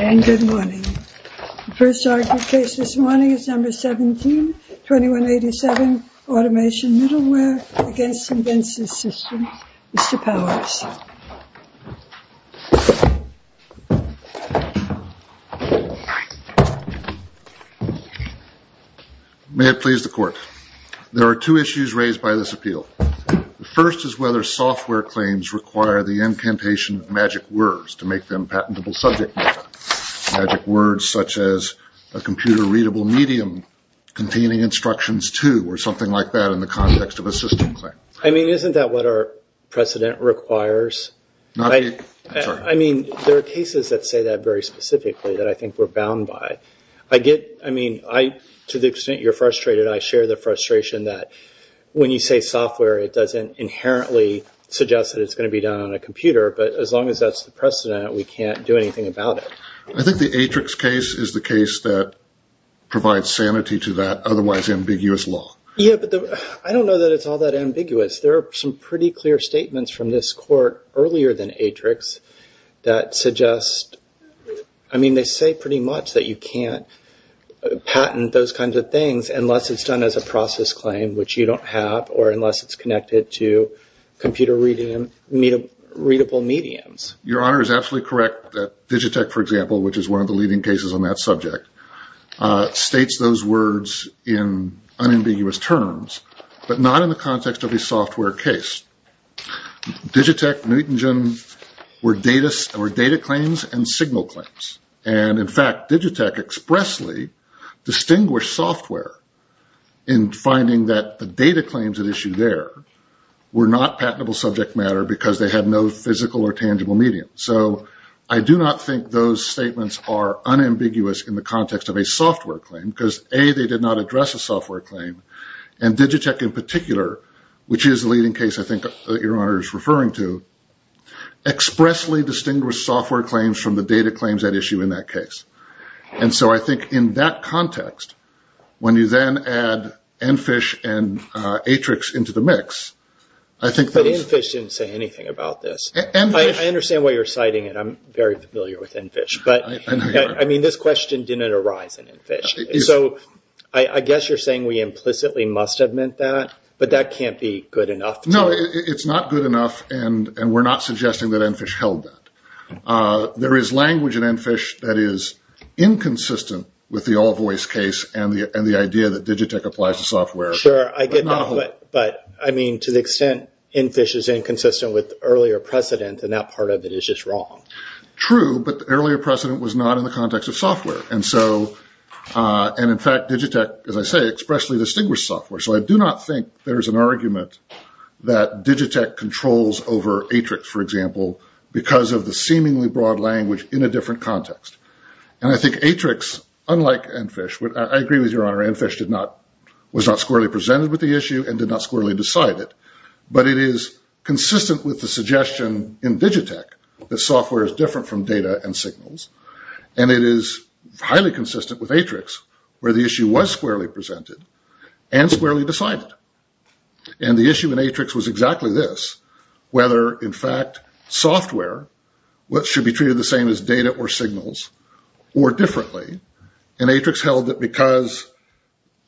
And good morning. The first argument case this morning is number 17, 2187, Automation Middleware against Invensys Systems. Mr. Powers. May it please the court. There are two issues raised by this appeal. The first is whether software claims require the incantation of magic words to make them patentable subject matter. Magic words such as a computer-readable medium containing instructions to or something like that in the context of a system claim. I mean, isn't that what our precedent requires? I mean, there are cases that say that very specifically that I think we're bound by. I get, I mean, to the extent you're frustrated, I share the frustration that when you say software, it doesn't inherently suggest that it's going to be done on a computer, but as long as that's the precedent, we can't do anything about it. I think the Atrix case is the case that provides sanity to that otherwise ambiguous law. Yeah, but I don't know that it's all that ambiguous. There are some pretty clear statements from this court earlier than Atrix that suggest, I mean, they say pretty much that you can't patent those kinds of things unless it's done as a process claim, which you don't have, or unless it's connected to computer-readable mediums. Your Honor is absolutely correct that Digitech, for example, which is one of the leading cases on that subject, states those words in unambiguous terms, but not in the context of a software case. Digitech, Neutengen were data claims and signal claims, and in fact, Digitech expressly distinguished software in finding that the data claims at issue there were not patentable subject matter because they had no physical or tangible medium. So, I do not think those statements are unambiguous in the context of a software claim, because A, they did not address a software claim, and Digitech in particular, which is the leading case I think that Your Honor is referring to, expressly distinguished software claims from the data claims at issue in that case. And so, I think in that context, when you then add EnFish and Atrix into the mix, I think that... ...inconsistent with the all-voice case and the idea that Digitech applies to software. Sure, I get that, but I mean, to the extent EnFish is inconsistent with earlier precedent, then that part of it is just wrong. True, but the earlier precedent was not in the context of software, and so, and in fact, Digitech, as I say, expressly distinguished software. So, I do not think there's an argument that Digitech controls over Atrix, for example, because of the seemingly broad language in a different context. And I think Atrix, unlike EnFish, I agree with Your Honor, EnFish did not, was not squarely presented with the issue and did not squarely decide it. But it is consistent with the suggestion in Digitech that software is different from data and signals. And it is highly consistent with Atrix, where the issue was squarely presented and squarely decided. And the issue in Atrix was exactly this, whether, in fact, software should be treated the same as data or signals or differently. And Atrix held that because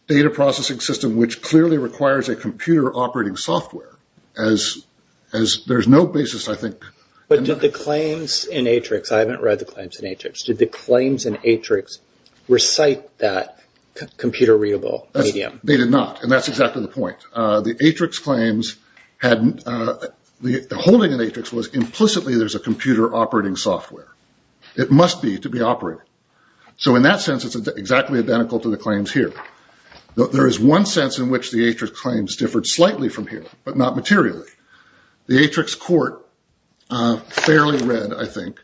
data processing system, which clearly requires a computer operating software, as there's no basis, I think. But did the claims in Atrix, I haven't read the claims in Atrix, did the claims in Atrix recite that computer readable medium? They did not, and that's exactly the point. The Atrix claims had, the holding in Atrix was implicitly there's a computer operating software. It must be to be operated. So in that sense, it's exactly identical to the claims here. There is one sense in which the Atrix claims differed slightly from here, but not materially. The Atrix court, fairly read, I think,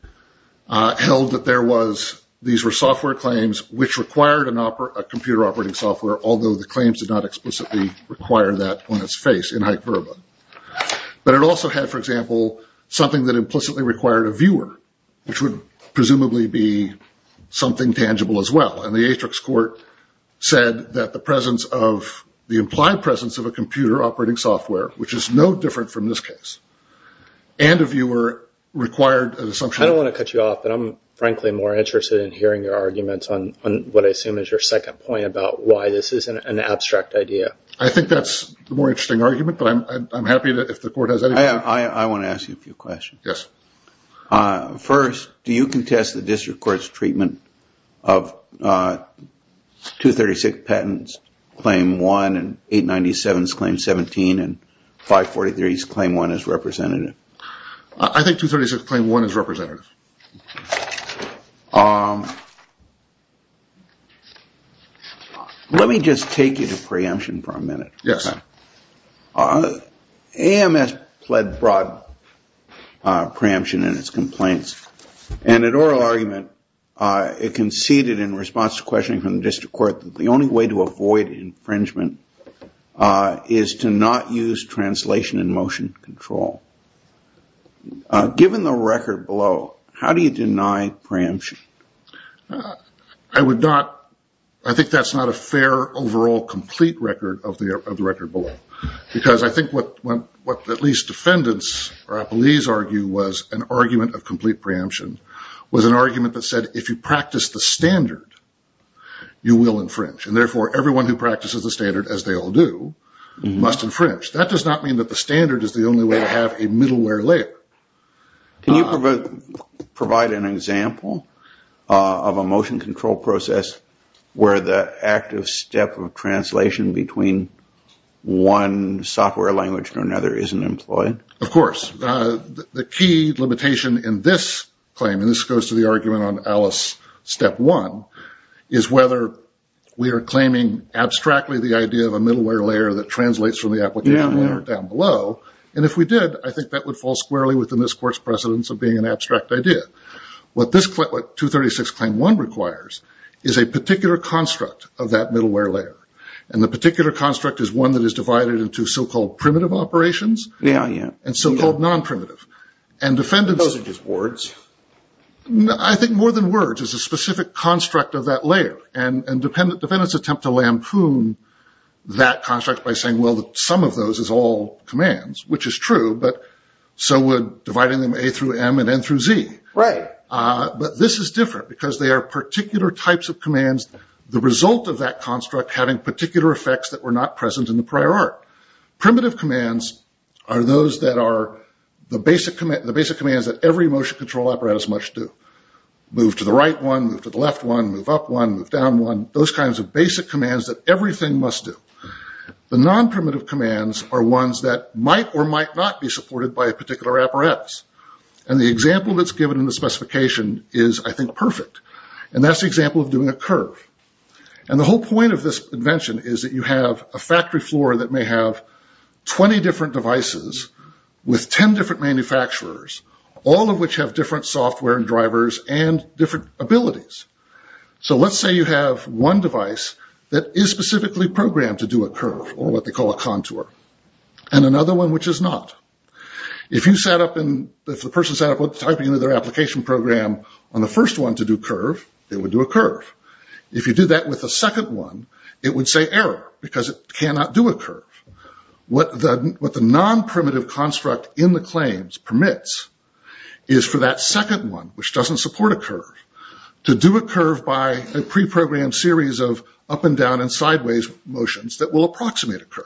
held that there was, these were software claims which required a computer operating software, although the claims did not explicitly require that on its face in hyperbole. But it also had, for example, something that implicitly required a viewer, which would presumably be something tangible as well. And the Atrix court said that the presence of, the implied presence of a computer operating software, which is no different from this case, and a viewer required an assumption. I don't want to cut you off, but I'm frankly more interested in hearing your arguments on what I assume is your second point about why this is an abstract idea. I think that's the more interesting argument, but I'm happy if the court has anything to say. I want to ask you a few questions. Yes. First, do you contest the district court's treatment of 236 patents, Claim 1 and 897's Claim 17 and 543's Claim 1 as representative? Let me just take you to preemption for a minute. Yes. AMS pled broad preemption in its complaints. And in oral argument, it conceded in response to questioning from the district court that the only way to avoid infringement is to not use translation and motion control. Given the record below, how do you deny preemption? I would not, I think that's not a fair overall complete record of the record below. Because I think what at least defendants or appellees argue was an argument of complete preemption, was an argument that said if you practice the standard, you will infringe. And therefore, everyone who practices the standard, as they all do, must infringe. That does not mean that the standard is the only way to have a middleware layer. Can you provide an example of a motion control process where the active step of translation between one software language or another isn't employed? Of course. The key limitation in this claim, and this goes to the argument on Alice Step 1, is whether we are claiming abstractly the idea of a middleware layer that translates from the application layer down below. And if we did, I think that would fall squarely within this court's precedence of being an abstract idea. What 236 Claim 1 requires is a particular construct of that middleware layer. And the particular construct is one that is divided into so-called primitive operations and so-called non-primitive. Those are just words. I think more than words. It's a specific construct of that layer. And defendants attempt to lampoon that construct by saying, well, some of those is all commands. Which is true, but so would dividing them A through M and N through Z. Right. But this is different, because they are particular types of commands, the result of that construct having particular effects that were not present in the prior art. Primitive commands are those that are the basic commands that every motion control apparatus must do. Move to the right one, move to the left one, move up one, move down one. Those kinds of basic commands that everything must do. The non-primitive commands are ones that might or might not be supported by a particular apparatus. And the example that's given in the specification is, I think, perfect. And that's the example of doing a curve. And the whole point of this invention is that you have a factory floor that may have 20 different devices with 10 different manufacturers. All of which have different software and drivers and different abilities. So let's say you have one device that is specifically programmed to do a curve, or what they call a contour. And another one which is not. If the person sat up typing into their application program on the first one to do a curve, it would do a curve. If you did that with the second one, it would say error, because it cannot do a curve. What the non-primitive construct in the claims permits is for that second one, which doesn't support a curve, to do a curve by a pre-programmed series of up and down and sideways motions that will approximate a curve.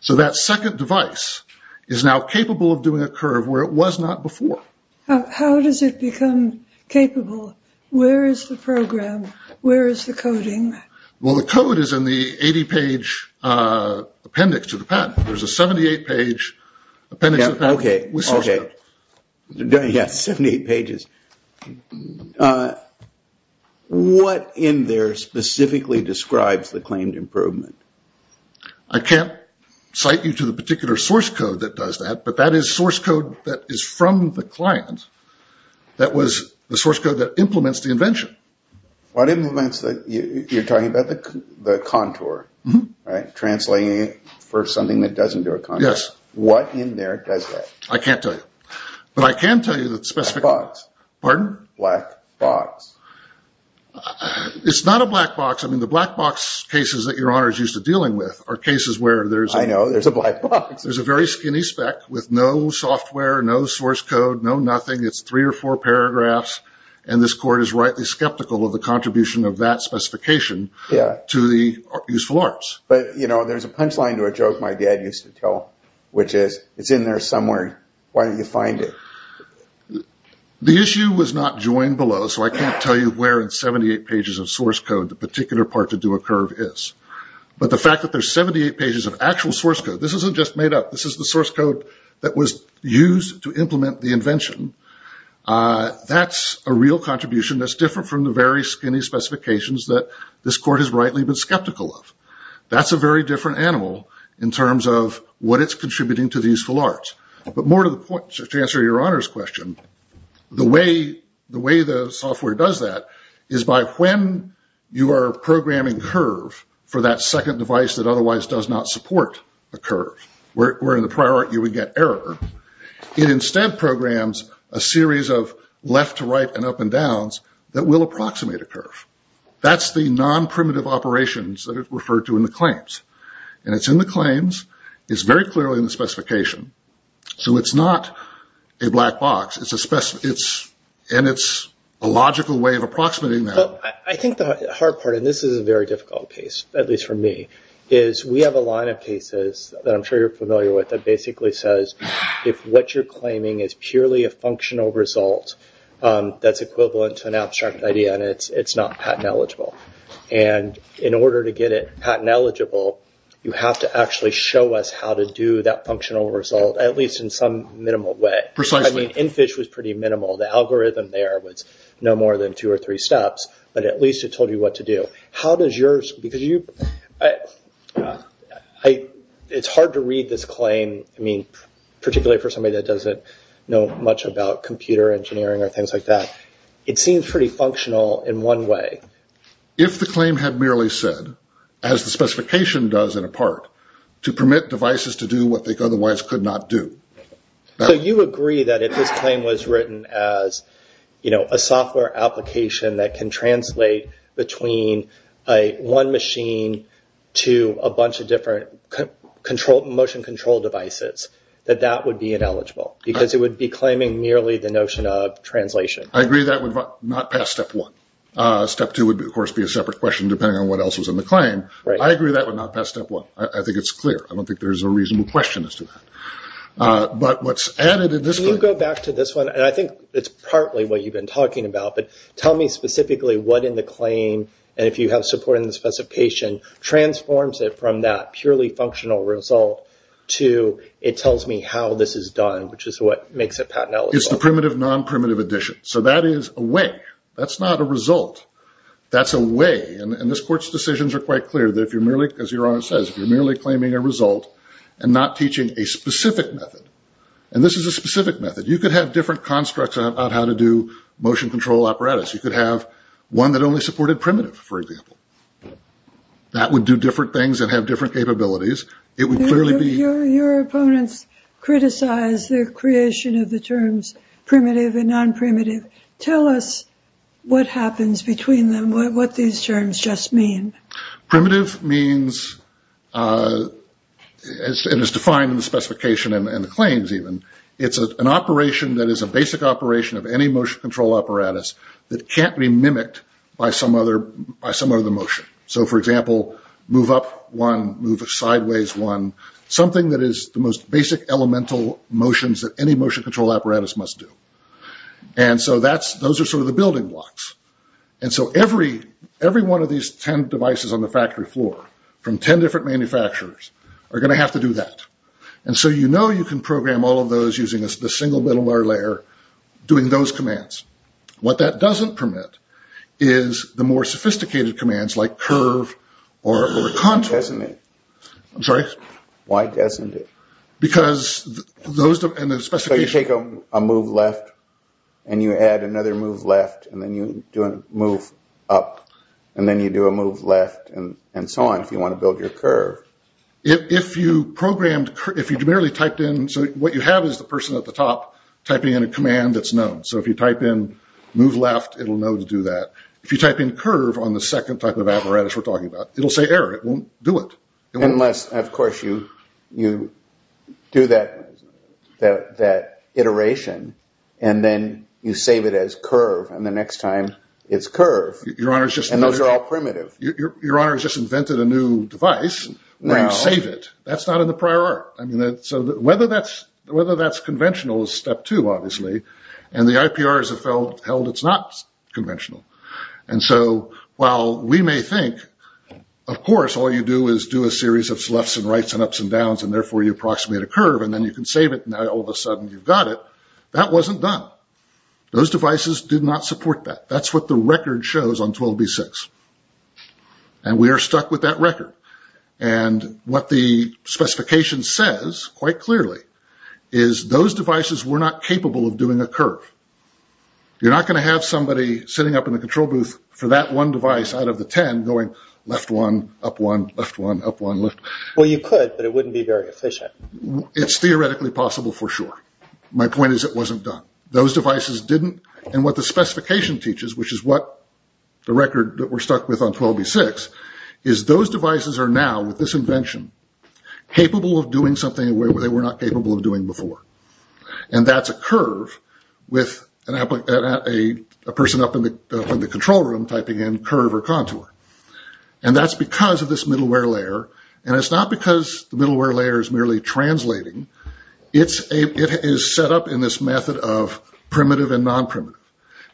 So that second device is now capable of doing a curve where it was not before. How does it become capable? Where is the program? Where is the coding? Well, the code is in the 80-page appendix to the patent. There's a 78-page appendix. Okay. Okay. Yeah, 78 pages. What in there specifically describes the claimed improvement? I can't cite you to the particular source code that does that, but that is source code that is from the client. That was the source code that implements the invention. What implements that? You're talking about the contour, right? Translating it for something that doesn't do a contour. Yes. What in there does that? I can't tell you. But I can tell you that specific... Black box. Pardon? Black box. It's not a black box. I mean, the black box cases that Your Honor is used to dealing with are cases where there's a... I know. There's a black box. There's a very skinny spec with no software, no source code, no nothing. It's three or four paragraphs, and this court is rightly skeptical of the contribution of that specification to the useful arts. But, you know, there's a punchline to a joke my dad used to tell, which is, it's in there somewhere. Why don't you find it? The issue was not joined below, so I can't tell you where in 78 pages of source code the particular part to do a curve is. But the fact that there's 78 pages of actual source code, this isn't just made up. This is the source code that was used to implement the invention. That's a real contribution that's different from the very skinny specifications that this court has rightly been skeptical of. That's a very different animal in terms of what it's contributing to the useful arts. But more to the point, to answer your Honor's question, the way the software does that is by when you are programming curve for that second device that otherwise does not support a curve, where in the prior art you would get error, it instead programs a series of left to right and up and downs that will approximate a curve. That's the non-primitive operations that it referred to in the claims. And it's in the claims, it's very clearly in the specification, so it's not a black box, and it's a logical way of approximating that. I think the hard part, and this is a very difficult case, at least for me, is we have a line of cases that I'm sure you're familiar with that basically says if what you're claiming is purely a functional result, that's equivalent to an abstract idea and it's not patent eligible. And in order to get it patent eligible, you have to actually show us how to do that functional result, at least in some minimal way. Precisely. I mean, EnFish was pretty minimal. The algorithm there was no more than two or three steps, but at least it told you what to do. How does yours, because you, it's hard to read this claim, I mean, particularly for somebody that doesn't know much about computer engineering or things like that. It seems pretty functional in one way. If the claim had merely said, as the specification does in a part, to permit devices to do what they otherwise could not do. So you agree that if this claim was written as a software application that can translate between one machine to a bunch of different motion control devices, that that would be ineligible, because it would be claiming merely the notion of translation. I agree that would not pass step one. Step two would, of course, be a separate question depending on what else was in the claim. I agree that would not pass step one. I think it's clear. I don't think there's a reasonable question as to that. But what's added in this claim. Can you go back to this one? And I think it's partly what you've been talking about, but tell me specifically what in the claim, and if you have support in the specification, transforms it from that purely functional result to it tells me how this is done, which is what makes it patent eligible. It's the primitive, non-primitive addition. So that is a way. That's not a result. That's a way. And this court's decisions are quite clear that if you're merely, as your Honor says, if you're merely claiming a result and not teaching a specific method, and this is a specific method, you could have different constructs about how to do motion control apparatus. You could have one that only supported primitive, for example. That would do different things and have different capabilities. Your opponents criticize the creation of the terms primitive and non-primitive. Tell us what happens between them, what these terms just mean. Primitive means, and it's defined in the specification and the claims even, it's an operation that is a basic operation of any motion control apparatus that can't be mimicked by some other motion. So, for example, move up one, move sideways one, something that is the most basic elemental motions that any motion control apparatus must do. And so those are sort of the building blocks. And so every one of these ten devices on the factory floor from ten different manufacturers are going to have to do that. And so you know you can program all of those using the single middleware layer doing those commands. What that doesn't permit is the more sophisticated commands like curve or contour. Doesn't it? I'm sorry? Why doesn't it? So you take a move left, and you add another move left, and then you do a move up, and then you do a move left, and so on, if you want to build your curve. If you programmed, if you merely typed in, so what you have is the person at the top typing in a command that's known. So if you type in move left, it'll know to do that. If you type in curve on the second type of apparatus we're talking about, it'll say error. It won't do it. Unless, of course, you do that iteration, and then you save it as curve, and the next time it's curve. And those are all primitive. Your honors just invented a new device where you save it. That's not in the prior art. So whether that's conventional is step two, obviously, and the IPRs have held it's not conventional. And so while we may think, of course, all you do is do a series of sloughs and rights and ups and downs, and therefore you approximate a curve, and then you can save it, and now all of a sudden you've got it, that wasn't done. Those devices did not support that. That's what the record shows on 12B6, and we are stuck with that record. And what the specification says quite clearly is those devices were not capable of doing a curve. You're not going to have somebody sitting up in the control booth for that one device out of the ten going left one, up one, left one, up one, left one. Well, you could, but it wouldn't be very efficient. It's theoretically possible for sure. My point is it wasn't done. Those devices didn't, and what the specification teaches, which is what the record that we're stuck with on 12B6, is those devices are now, with this invention, capable of doing something they were not capable of doing before. And that's a curve with a person up in the control room typing in curve or contour. And that's because of this middleware layer, and it's not because the middleware layer is merely translating. It is set up in this method of primitive and non-primitive.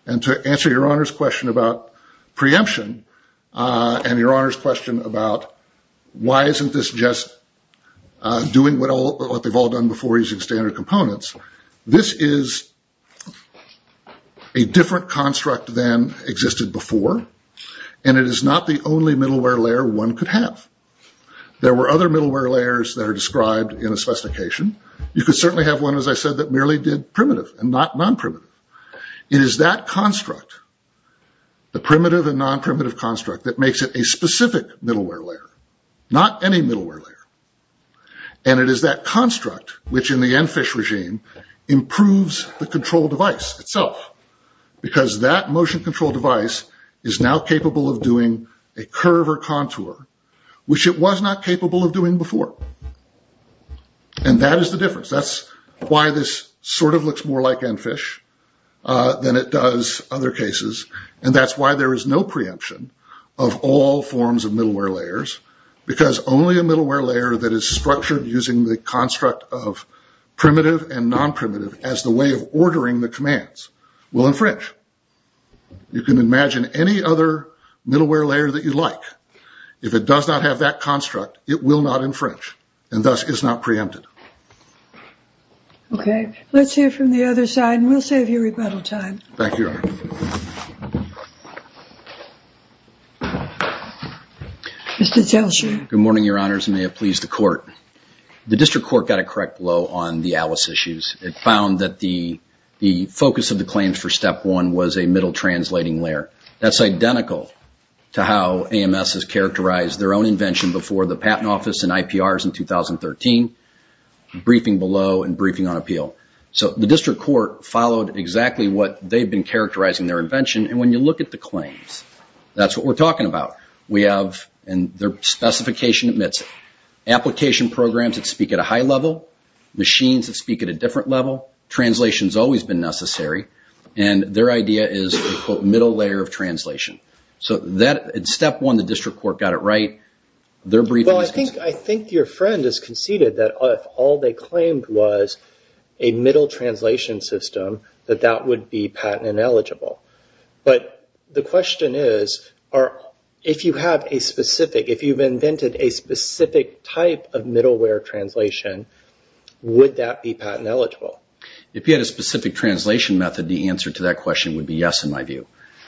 And to answer your Honor's question about preemption and your Honor's question about why isn't this just doing what they've all done before using standard components, this is a different construct than existed before, and it is not the only middleware layer one could have. There were other middleware layers that are described in a specification. You could certainly have one, as I said, that merely did primitive and not non-primitive. It is that construct, the primitive and non-primitive construct, that makes it a specific middleware layer, not any middleware layer. And it is that construct, which in the ENFISH regime, improves the control device itself, because that motion control device is now capable of doing a curve or contour, which it was not capable of doing before. And that is the difference. That's why this sort of looks more like ENFISH than it does other cases, and that's why there is no preemption of all forms of middleware layers, because only a middleware layer that is structured using the construct of primitive and non-primitive as the way of ordering the commands will infringe. You can imagine any other middleware layer that you like. If it does not have that construct, it will not infringe, and thus is not preempted. Okay. Let's hear from the other side, and we'll save you rebuttal time. Thank you, Your Honor. Mr. Zelsher. Good morning, Your Honors, and may it please the Court. The District Court got a correct blow on the ALICE issues. It found that the focus of the claims for Step 1 was a middle translating layer. That's identical to how AMS has characterized their own invention before the Patent Office and IPRs in 2013, briefing below and briefing on appeal. So the District Court followed exactly what they've been characterizing their invention, and when you look at the claims, that's what we're talking about. We have, and their specification admits it, application programs that speak at a high level, machines that speak at a different level. Translation has always been necessary, and their idea is a, quote, middle layer of translation. So Step 1, the District Court got it right. Their briefing is consistent. Well, I think your friend has conceded that if all they claimed was a middle translation system, that that would be patent ineligible. But the question is, if you have a specific, if you've invented a specific type of middleware translation, would that be patent eligible? If you had a specific translation method, the answer to that question would be yes, in my view.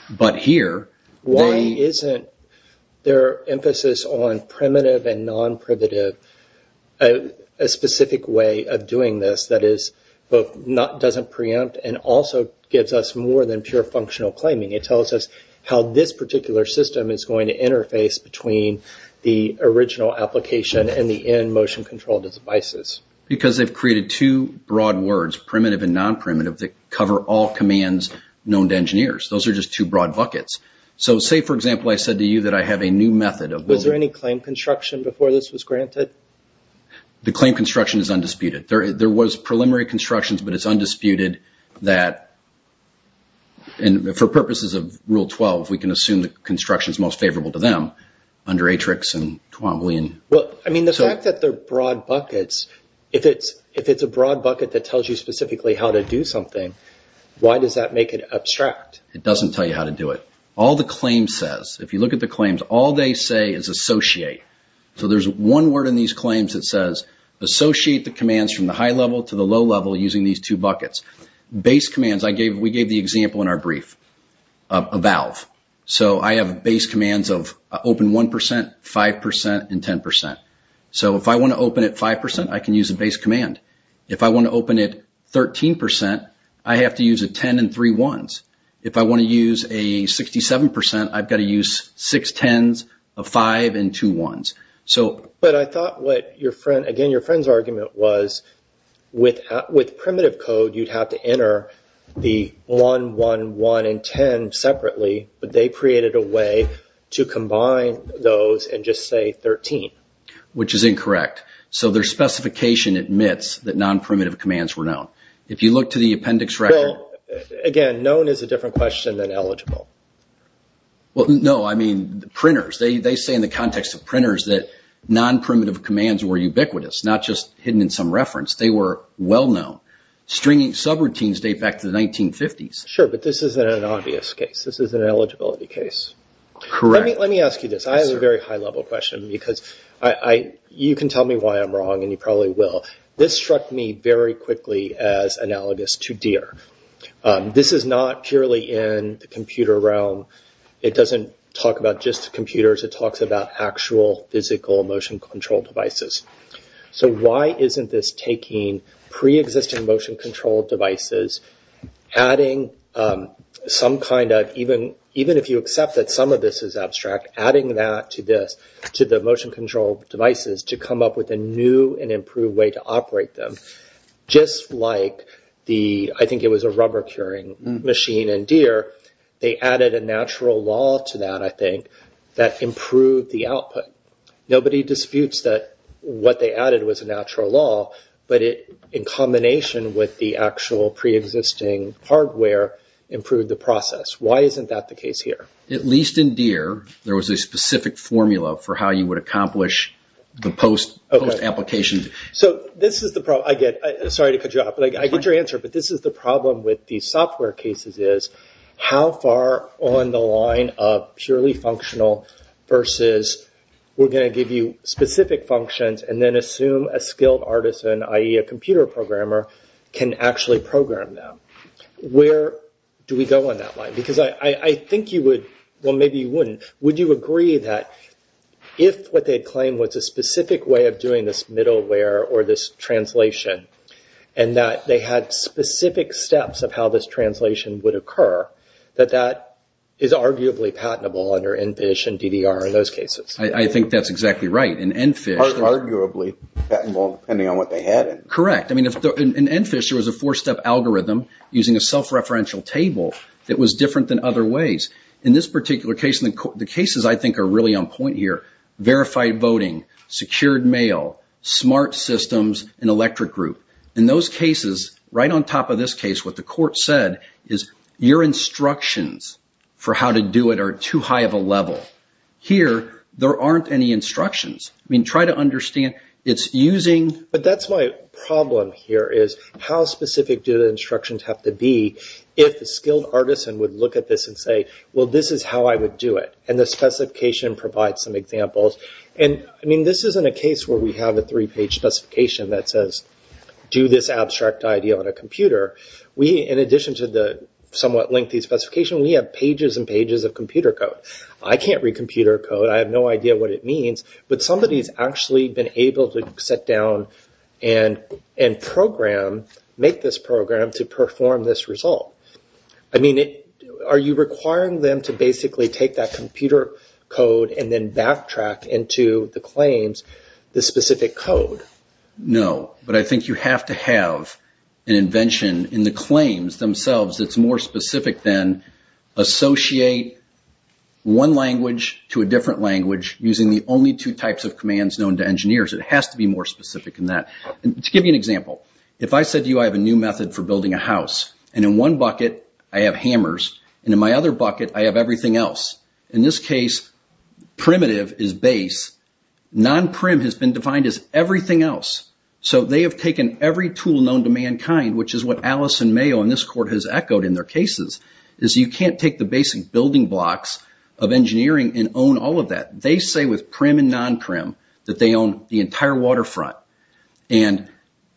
But here, why... Why isn't their emphasis on primitive and non-primitive a specific way of doing this that is both, doesn't preempt and also gives us more than pure functional claiming? It tells us how this particular system is going to interface between the original application and the in-motion control devices. Because they've created two broad words, primitive and non-primitive, that cover all commands known to engineers. Those are just two broad buckets. So say, for example, I said to you that I have a new method of... Was there any claim construction before this was granted? The claim construction is undisputed. There was preliminary constructions, but it's undisputed that, for purposes of Rule 12, we can assume the construction is most favorable to them under Atrix and Twombly and... Well, I mean, the fact that they're broad buckets, if it's a broad bucket that tells you specifically how to do something, why does that make it abstract? It doesn't tell you how to do it. All the claims says, if you look at the claims, all they say is associate. So there's one word in these claims that says, associate the commands from the high level to the low level using these two buckets. Base commands, we gave the example in our brief, a valve. So I have base commands of open 1%, 5%, and 10%. So if I want to open it 5%, I can use a base command. If I want to open it 13%, I have to use a 10 and three 1s. If I want to use a 67%, I've got to use six 10s, a 5, and two 1s. But I thought what your friend... Again, your friend's argument was, with primitive code, you'd have to enter the 1, 1, 1, and 10 separately, but they created a way to combine those and just say 13. Which is incorrect. So their specification admits that non-primitive commands were known. If you look to the appendix record... Well, again, known is a different question than eligible. Well, no, I mean, printers. They say in the context of printers that non-primitive commands were ubiquitous, not just hidden in some reference. They were well-known. Stringing subroutines date back to the 1950s. Sure, but this isn't an obvious case. This is an eligibility case. Correct. Let me ask you this. I have a very high-level question, because you can tell me why I'm wrong, and you probably will. This struck me very quickly as analogous to DIR. This is not purely in the computer realm. It doesn't talk about just computers. It talks about actual physical motion-controlled devices. So why isn't this taking pre-existing motion-controlled devices, adding some kind of, even if you accept that some of this is abstract, adding that to this, to the motion-controlled devices, to come up with a new and improved way to operate them? Just like the, I think it was a rubber-curing machine in DIR, they added a natural law to that, I think, that improved the output. Nobody disputes that what they added was a natural law, but in combination with the actual pre-existing hardware, improved the process. Why isn't that the case here? At least in DIR, there was a specific formula for how you would accomplish the post-application. So this is the problem. Sorry to cut you off, but I get your answer. But this is the problem with these software cases is, how far on the line of purely functional versus we're going to give you specific functions and then assume a skilled artisan, i.e. a computer programmer, can actually program them? Where do we go on that line? Because I think you would, well, maybe you wouldn't, would you agree that if what they claim was a specific way of doing this middleware or this translation, and that they had specific steps of how this translation would occur, that that is arguably patentable under ENFISH and DDR in those cases? I think that's exactly right. In ENFISH. Arguably patentable, depending on what they had. Correct. In ENFISH, there was a four-step algorithm using a self-referential table that was different than other ways. In this particular case, the cases I think are really on point here, verified voting, secured mail, smart systems, and electric group. In those cases, right on top of this case, what the court said is, your instructions for how to do it are too high of a level. Here, there aren't any instructions. I mean, try to understand, it's using... But that's my problem here is, how specific do the instructions have to be if a skilled artisan would look at this and say, well, this is how I would do it. And the specification provides some examples. This isn't a case where we have a three-page specification that says, do this abstract idea on a computer. In addition to the somewhat lengthy specification, we have pages and pages of computer code. I can't read computer code. I have no idea what it means. But somebody's actually been able to sit down and program, make this program to perform this result. I mean, are you requiring them to basically take that computer code and then backtrack into the claims the specific code? No. But I think you have to have an invention in the claims themselves that's more specific than associate one language to a different language using the only two types of commands known to engineers. It has to be more specific than that. To give you an example, if I said to you I have a new method for building a house, and in one bucket I have hammers, and in my other bucket I have everything else. In this case, primitive is base. Non-prim has been defined as everything else. So they have taken every tool known to mankind, which is what Allison Mayo in this court has echoed in their cases, is you can't take the basic building blocks of engineering and own all of that. They say with prim and non-prim that they own the entire waterfront.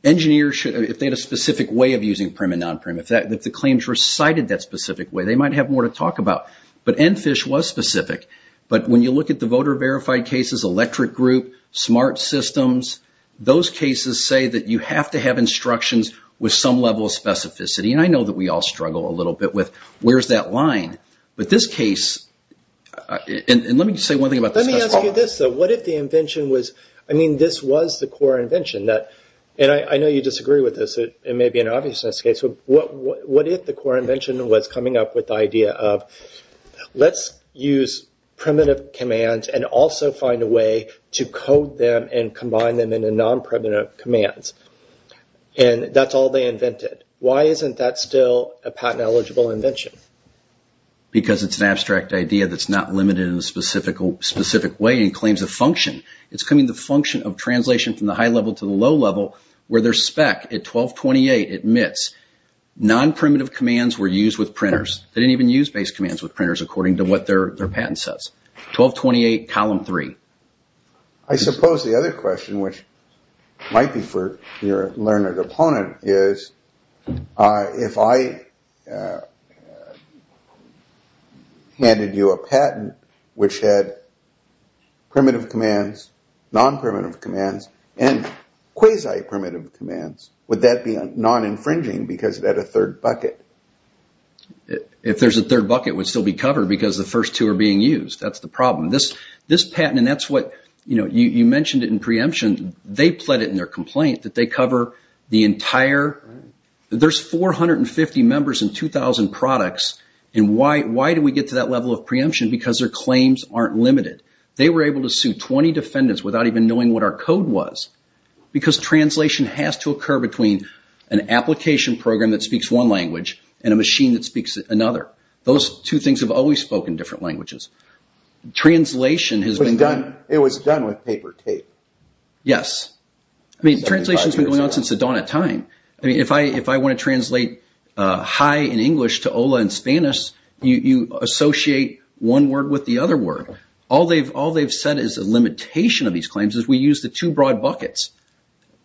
Engineers, if they had a specific way of using prim and non-prim, if the claims were cited that specific way, they might have more to talk about. But ENFISH was specific. But when you look at the voter verified cases, Electric Group, Smart Systems, those cases say that you have to have instructions with some level of specificity. And I know that we all struggle a little bit with where's that line? But this case, and let me just say one thing about this case. Let me ask you this, though. I mean, this was the core invention. And I know you disagree with this. It may be an obviousness case. What if the core invention was coming up with the idea of let's use primitive commands and also find a way to code them and combine them into non-primitive commands? And that's all they invented. Why isn't that still a patent-eligible invention? Because it's an abstract idea that's not limited in a specific way and claims a function. It's coming to the function of translation from the high level to the low level where their spec at 1228 admits non-primitive commands were used with printers. They didn't even use base commands with printers, according to what their patent says. 1228, Column 3. I suppose the other question, which might be for your learned opponent, is if I handed you a patent which had primitive commands, non-primitive commands, and quasi-primitive commands, would that be non-infringing because it had a third bucket? If there's a third bucket, it would still be covered because the first two are being used. That's the problem. This patent, and that's what you mentioned in preemption, they pled it in their complaint that they cover the entire... There's 450 members and 2,000 products, and why do we get to that level of preemption? Because their claims aren't limited. They were able to sue 20 defendants without even knowing what our code was because translation has to occur between an application program that speaks one language and a machine that speaks another. Those two things have always spoken different languages. Translation has been done... Yes. Translation has been going on since the dawn of time. If I want to translate hi in English to hola in Spanish, you associate one word with the other word. All they've said is the limitation of these claims is we use the two broad buckets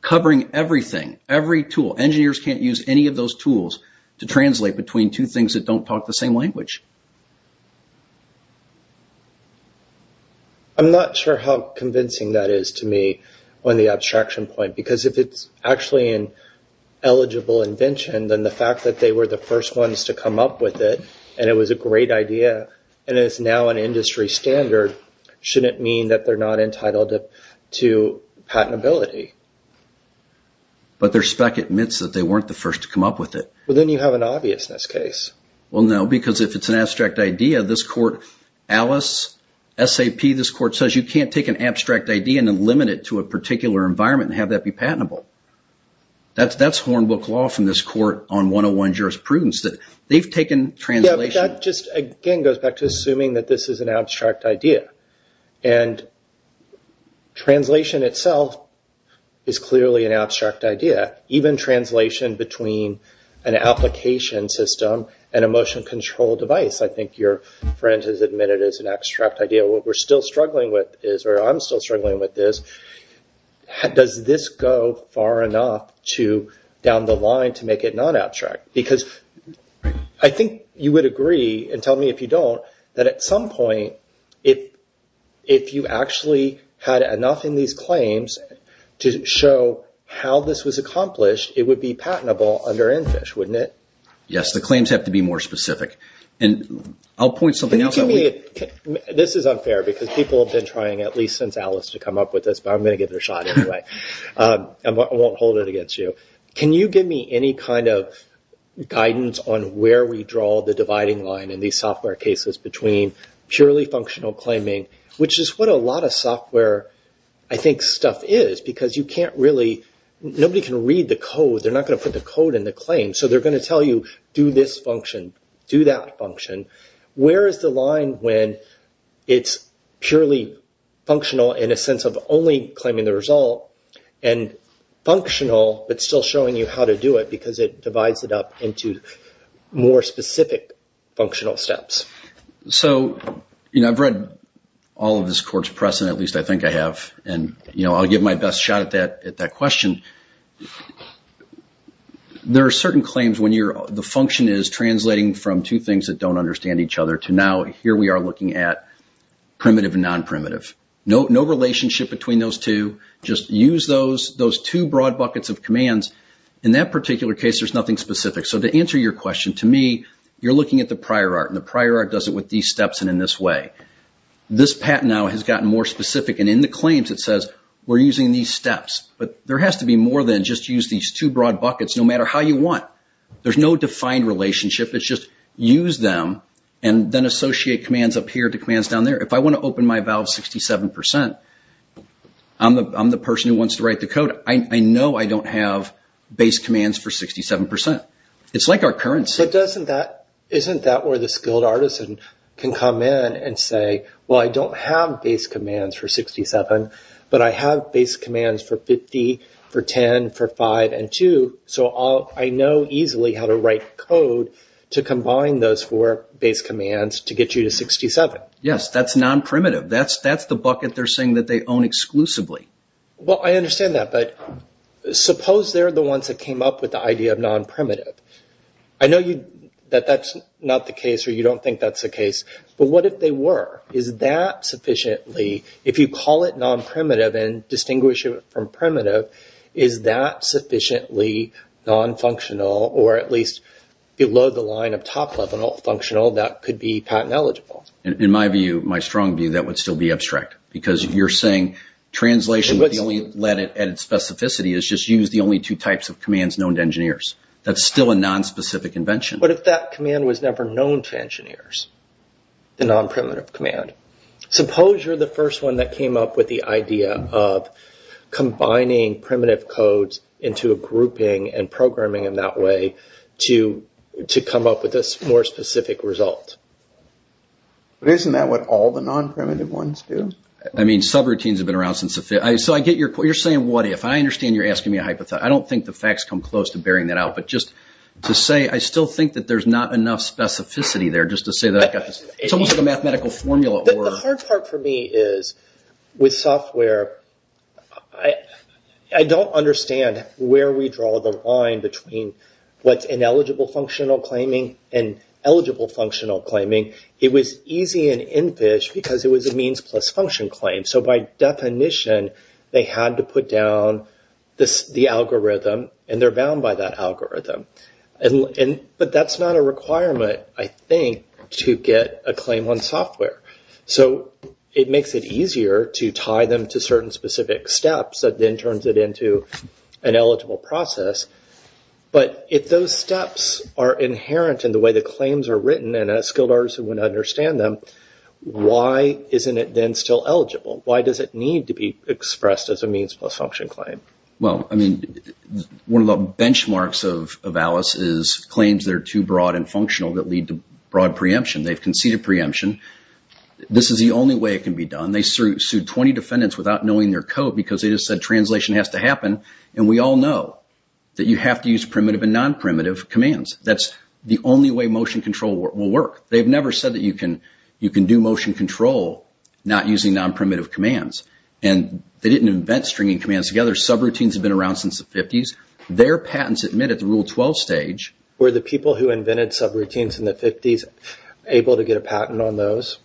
covering everything, every tool. Engineers can't use any of those tools to translate between two things that don't talk the same language. I'm not sure how convincing that is to me on the abstraction point because if it's actually an eligible invention, then the fact that they were the first ones to come up with it and it was a great idea and it's now an industry standard shouldn't mean that they're not entitled to patentability. But their spec admits that they weren't the first to come up with it. Well, then you have an obviousness case. Well, no, because if it's an abstract idea, this court... Alice, SAP, this court says you can't take an abstract idea and then limit it to a particular environment and have that be patentable. That's hornbook law from this court on 101 jurisprudence. They've taken translation... Yeah, but that just, again, goes back to assuming that this is an abstract idea. And translation itself is clearly an abstract idea. Even translation between an application system and a motion control device, I think your friend has admitted is an abstract idea. What we're still struggling with is, or I'm still struggling with is, does this go far enough down the line to make it non-abstract? Because I think you would agree, and tell me if you don't, that at some point, if you actually had enough in these claims to show how this was accomplished, it would be patentable under ENFISH, wouldn't it? Yes, the claims have to be more specific. And I'll point something else out. This is unfair, because people have been trying, at least since Alice, to come up with this, but I'm going to give it a shot anyway. I won't hold it against you. Can you give me any kind of guidance on where we draw the dividing line in these software cases between purely functional claiming, which is what a lot of software, I think, stuff is. Because you can't really, nobody can read the code. They're not going to put the code in the claim. So they're going to tell you, do this function, do that function. Where is the line when it's purely functional in a sense of only claiming the result, and functional but still showing you how to do it, because it divides it up into more specific functional steps? Yes. So, you know, I've read all of this court's precedent, at least I think I have. And, you know, I'll give my best shot at that question. There are certain claims when the function is translating from two things that don't understand each other to now here we are looking at primitive and non-primitive. No relationship between those two. Just use those two broad buckets of commands. In that particular case, there's nothing specific. So to answer your question, to me, you're looking at the prior art. And the prior art does it with these steps and in this way. This patent now has gotten more specific. And in the claims, it says we're using these steps. But there has to be more than just use these two broad buckets no matter how you want. There's no defined relationship. It's just use them and then associate commands up here to commands down there. If I want to open my valve 67%, I'm the person who wants to write the code. I know I don't have base commands for 67%. It's like our currency. Isn't that where the skilled artisan can come in and say, well, I don't have base commands for 67, but I have base commands for 50, for 10, for 5, and 2. So I know easily how to write code to combine those four base commands to get you to 67. Yes, that's non-primitive. That's the bucket they're saying that they own exclusively. Well, I understand that. But suppose they're the ones that came up with the idea of non-primitive. I know that that's not the case or you don't think that's the case. But what if they were? Is that sufficiently, if you call it non-primitive and distinguish it from primitive, is that sufficiently non-functional or at least below the line of top-level functional that could be patent eligible? In my view, my strong view, that would still be abstract. Because you're saying translation, the only lead at its specificity, is just use the only two types of commands known to engineers. That's still a non-specific invention. But if that command was never known to engineers, the non-primitive command, suppose you're the first one that came up with the idea of combining primitive codes into a grouping and programming in that way to come up with a more specific result. But isn't that what all the non-primitive ones do? I mean, subroutines have been around since the 50s. So I get your point. You're saying what if. I understand you're asking me a hypothesis. I don't think the facts come close to bearing that out. But just to say, I still think that there's not enough specificity there. Just to say that I've got this. It's almost like a mathematical formula. The hard part for me is, with software, I don't understand where we draw the line between what's ineligible functional claiming and eligible functional claiming. It was easy and in fish because it was a means plus function claim. So by definition, they had to put down the algorithm and they're bound by that algorithm. But that's not a requirement, I think, to get a claim on software. So it makes it easier to tie them to certain specific steps that then turns it into an eligible process. But if those steps are inherent in the way the claims are written and a skilled artist wouldn't understand them, why isn't it then still eligible? Why does it need to be expressed as a means plus function claim? Well, I mean, one of the benchmarks of Alice is claims that are too broad and functional that lead to broad preemption. They've conceded preemption. This is the only way it can be done. They sued 20 defendants without knowing their code because they just said translation has to happen. And we all know that you have to use primitive and non-primitive commands. That's the only way motion control will work. They've never said that you can do motion control not using non-primitive commands. And they didn't invent stringing commands together. Subroutines have been around since the 50s. Their patents admit at the Rule 12 stage. Were the people who invented subroutines in the 50s able to get a patent on those?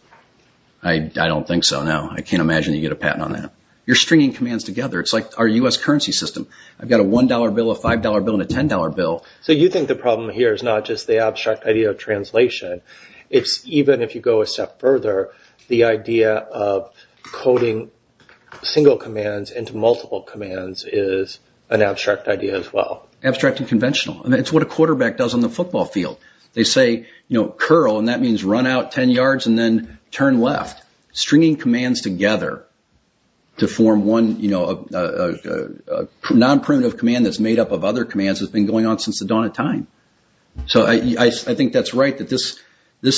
I don't think so, no. I can't imagine you get a patent on that. You're stringing commands together. It's like our U.S. currency system. I've got a $1 bill, a $5 bill, and a $10 bill. So you think the problem here is not just the abstract idea of translation. It's even if you go a step further, the idea of coding single commands into multiple commands is an abstract idea as well. Abstract and conventional. It's what a quarterback does on the football field. They say, you know, curl, and that means run out 10 yards and then turn left. Stringing commands together to form one, you know, non-primitive command that's made up of other commands has been going on since the dawn of time. So I think that's right, that this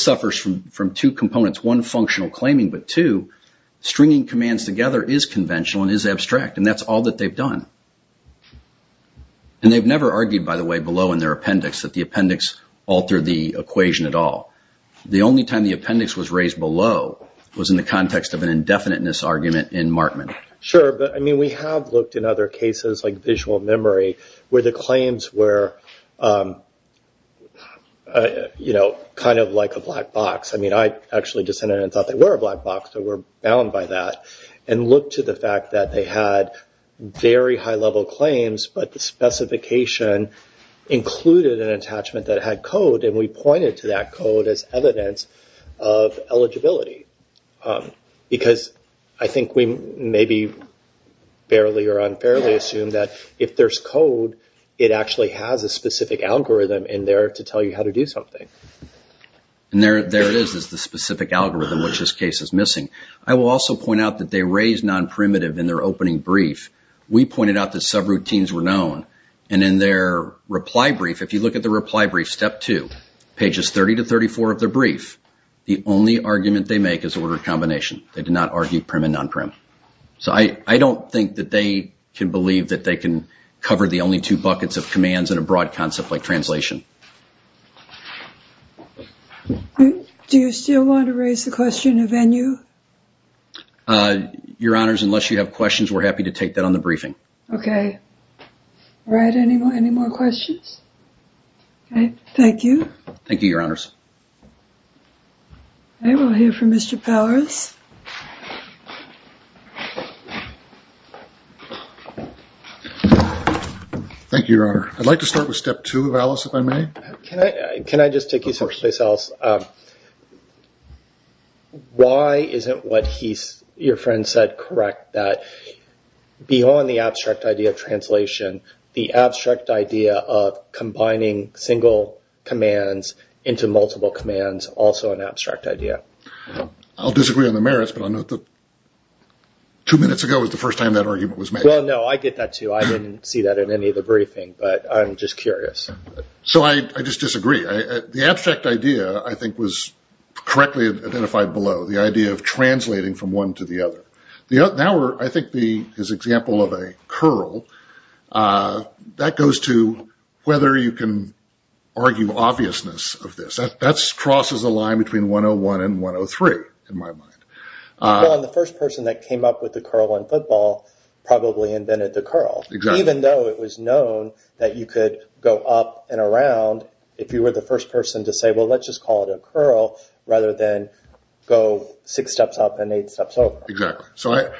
suffers from two components. One, functional claiming, but two, stringing commands together is conventional and is abstract, and that's all that they've done. And they've never argued, by the way, below in their appendix that the appendix altered the equation at all. The only time the appendix was raised below was in the context of an indefiniteness argument in Markman. Sure, but, I mean, we have looked in other cases like visual memory where the claims were, you know, kind of like a black box. I mean, I actually dissented and thought they were a black box, so we're bound by that, and looked to the fact that they had very high-level claims, but the specification included an attachment that had code, and we pointed to that code as evidence of eligibility. Because I think we maybe fairly or unfairly assume that if there's code, it actually has a specific algorithm in there to tell you how to do something. And there it is, is the specific algorithm, which this case is missing. I will also point out that they raised non-primitive in their opening brief. We pointed out that subroutines were known, and in their reply brief, if you look at the reply brief, step two, pages 30 to 34 of the brief, the only argument they make is order combination. They did not argue prim and non-prim. So I don't think that they can believe that they can cover the only two buckets of commands in a broad concept like translation. Do you still want to raise the question of NU? Your Honors, unless you have questions, we're happy to take that on the briefing. Okay. All right. Any more questions? Okay. Thank you. Thank you, Your Honors. Okay. We'll hear from Mr. Powers. Thank you, Your Honor. I'd like to start with step two, if I may. Can I just take you someplace else? Of course. Why isn't what your friend said correct, that beyond the abstract idea of translation, the abstract idea of combining single commands into multiple commands also an abstract idea? I'll disagree on the merits, but I'll note that two minutes ago was the first time that argument was made. Well, no, I get that, too. I didn't see that in any of the briefing, but I'm just curious. So I just disagree. The abstract idea, I think, was correctly identified below, the idea of translating from one to the other. I think his example of a curl, that goes to whether you can argue obviousness of this. That crosses a line between 101 and 103, in my mind. Well, the first person that came up with the curl in football probably invented the curl. Exactly. Even though it was known that you could go up and around, if you were the first person to say, well, let's just call it a curl, rather than go six steps up and eight steps over. Exactly. So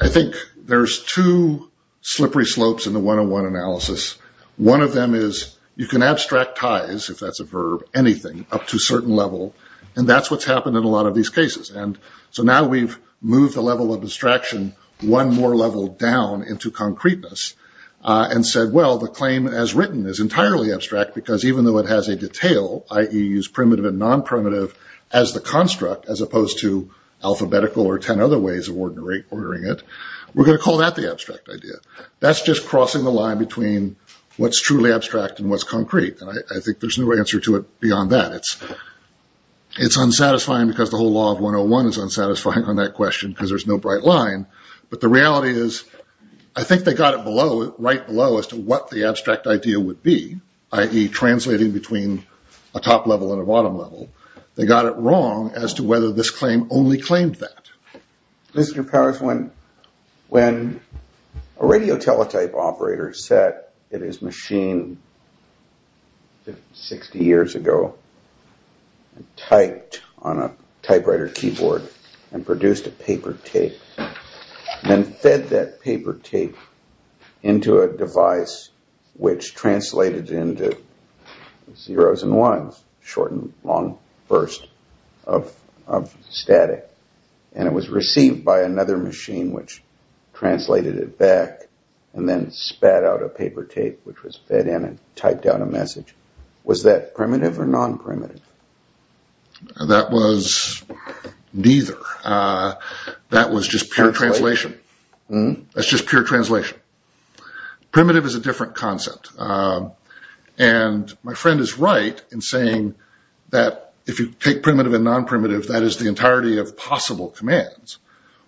I think there's two slippery slopes in the 101 analysis. One of them is you can abstractize, if that's a verb, anything up to a certain level, and that's what's happened in a lot of these cases. And so now we've moved the level of abstraction one more level down into concreteness, and said, well, the claim as written is entirely abstract, because even though it has a detail, i.e., use primitive and non-primitive as the construct, as opposed to alphabetical or ten other ways of ordering it, we're going to call that the abstract idea. That's just crossing the line between what's truly abstract and what's concrete, and I think there's no answer to it beyond that. It's unsatisfying because the whole law of 101 is unsatisfying on that question, because there's no bright line. But the reality is, I think they got it right below as to what the abstract idea would be, i.e., translating between a top level and a bottom level. They got it wrong as to whether this claim only claimed that. Listener Powers, when a radio teletype operator said it is machined 60 years ago, typed on a typewriter keyboard and produced a paper tape, then fed that paper tape into a device which translated into zeros and ones, short and long bursts of static, and it was received by another machine which translated it back and then spat out a paper tape which was fed in and typed out a message, was that primitive or non-primitive? That was neither. That was just pure translation. That's just pure translation. Primitive is a different concept. And my friend is right in saying that if you take primitive and non-primitive, that is the entirety of possible commands.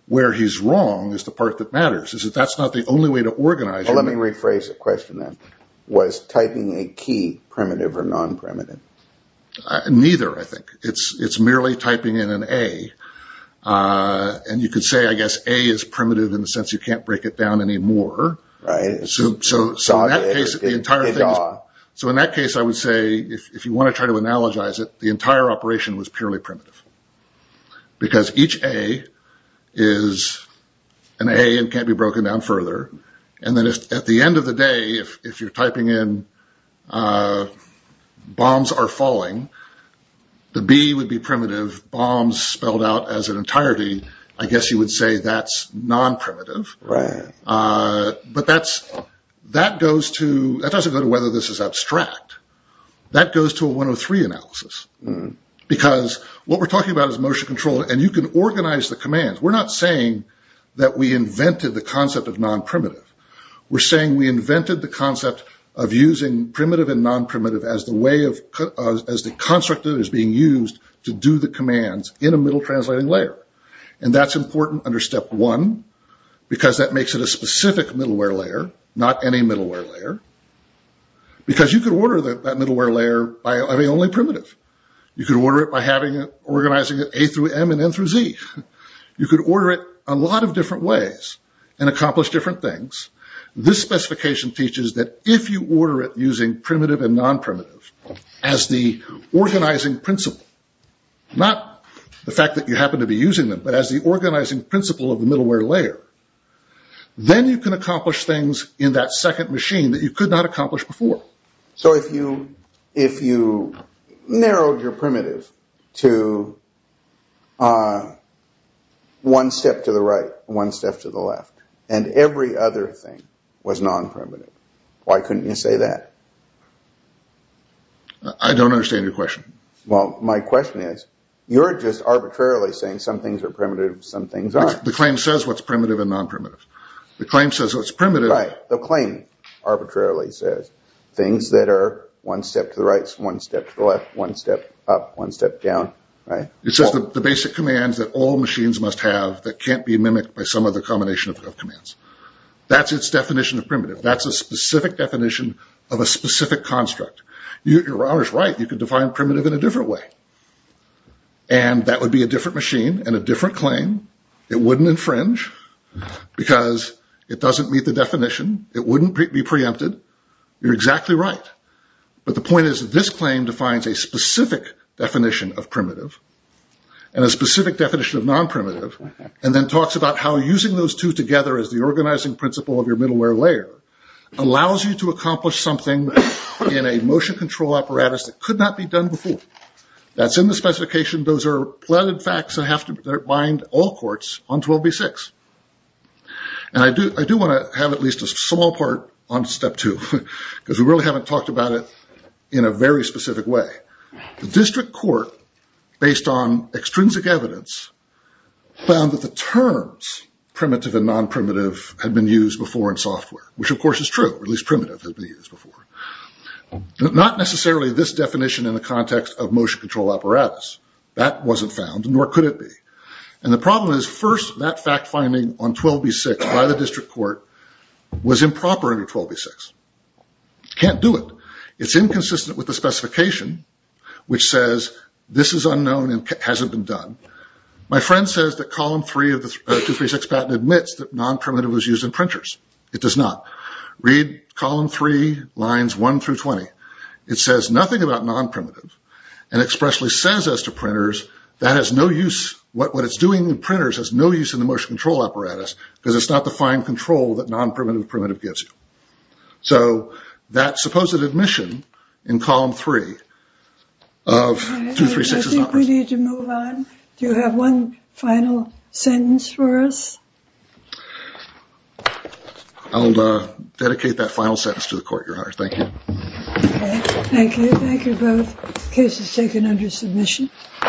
Where he's wrong is the part that matters, is that that's not the only way to organize it. Well, let me rephrase the question then. Was typing a key primitive or non-primitive? Neither, I think. It's merely typing in an A, and you could say, I guess, A is primitive in the sense you can't break it down anymore. Right. So in that case, I would say, if you want to try to analogize it, the entire operation was purely primitive because each A is an A and can't be broken down further, and then at the end of the day, if you're typing in bombs are falling, the B would be primitive, bombs spelled out as an entirety. I guess you would say that's non-primitive. Right. But that doesn't go to whether this is abstract. That goes to a 103 analysis. Because what we're talking about is motion control, and you can organize the commands. We're not saying that we invented the concept of non-primitive. We're saying we invented the concept of using primitive and non-primitive as the construct that is being used to do the commands in a middle translating layer. And that's important under step one, because that makes it a specific middleware layer, not any middleware layer. Because you could order that middleware layer by having only primitive. You could order it by organizing it A through M and N through Z. You could order it a lot of different ways and accomplish different things. This specification teaches that if you order it using primitive and non-primitive as the organizing principle, not the fact that you happen to be using them, but as the organizing principle of the middleware layer, then you can accomplish things in that second machine that you could not accomplish before. So if you narrowed your primitive to one step to the right, one step to the left, and every other thing was non-primitive, why couldn't you say that? I don't understand your question. Well, my question is, you're just arbitrarily saying some things are primitive and some things aren't. The claim says what's primitive and non-primitive. The claim says what's primitive... Right. The claim arbitrarily says things that are one step to the right, one step to the left, one step up, one step down. It says the basic commands that all machines must have that can't be mimicked by some other combination of commands. That's its definition of primitive. That's a specific definition of a specific construct. You're always right. You could define primitive in a different way. And that would be a different machine and a different claim. It wouldn't infringe because it doesn't meet the definition. It wouldn't be preempted. You're exactly right. But the point is this claim defines a specific definition of primitive and a specific definition of non-primitive and then talks about how using those two together as the organizing principle of your middleware layer allows you to accomplish something in a motion control apparatus that could not be done before. That's in the specification. Those are plotted facts that bind all courts on 12b-6. And I do want to have at least a small part on step two because we really haven't talked about it in a very specific way. The district court, based on extrinsic evidence, found that the terms primitive and non-primitive had been used before in software. Which, of course, is true. At least primitive had been used before. Not necessarily this definition in the context of motion control apparatus. That wasn't found, nor could it be. And the problem is, first, that fact finding on 12b-6 by the district court was improper under 12b-6. Can't do it. It's inconsistent with the specification, which says this is unknown and hasn't been done. My friend says that column three of the 236 patent admits that non-primitive was used in printers. It does not. Read column three, lines one through 20. It says nothing about non-primitive and expressly says as to printers, what it's doing in printers has no use in the motion control apparatus because it's not the fine control that non-primitive of primitive gives you. So that supposed admission in column three of 236 is not used. I think we need to move on. Do you have one final sentence for us? I'll dedicate that final sentence to the court, Your Honor. Thank you. Okay. Thank you. Thank you both. Case is taken under submission.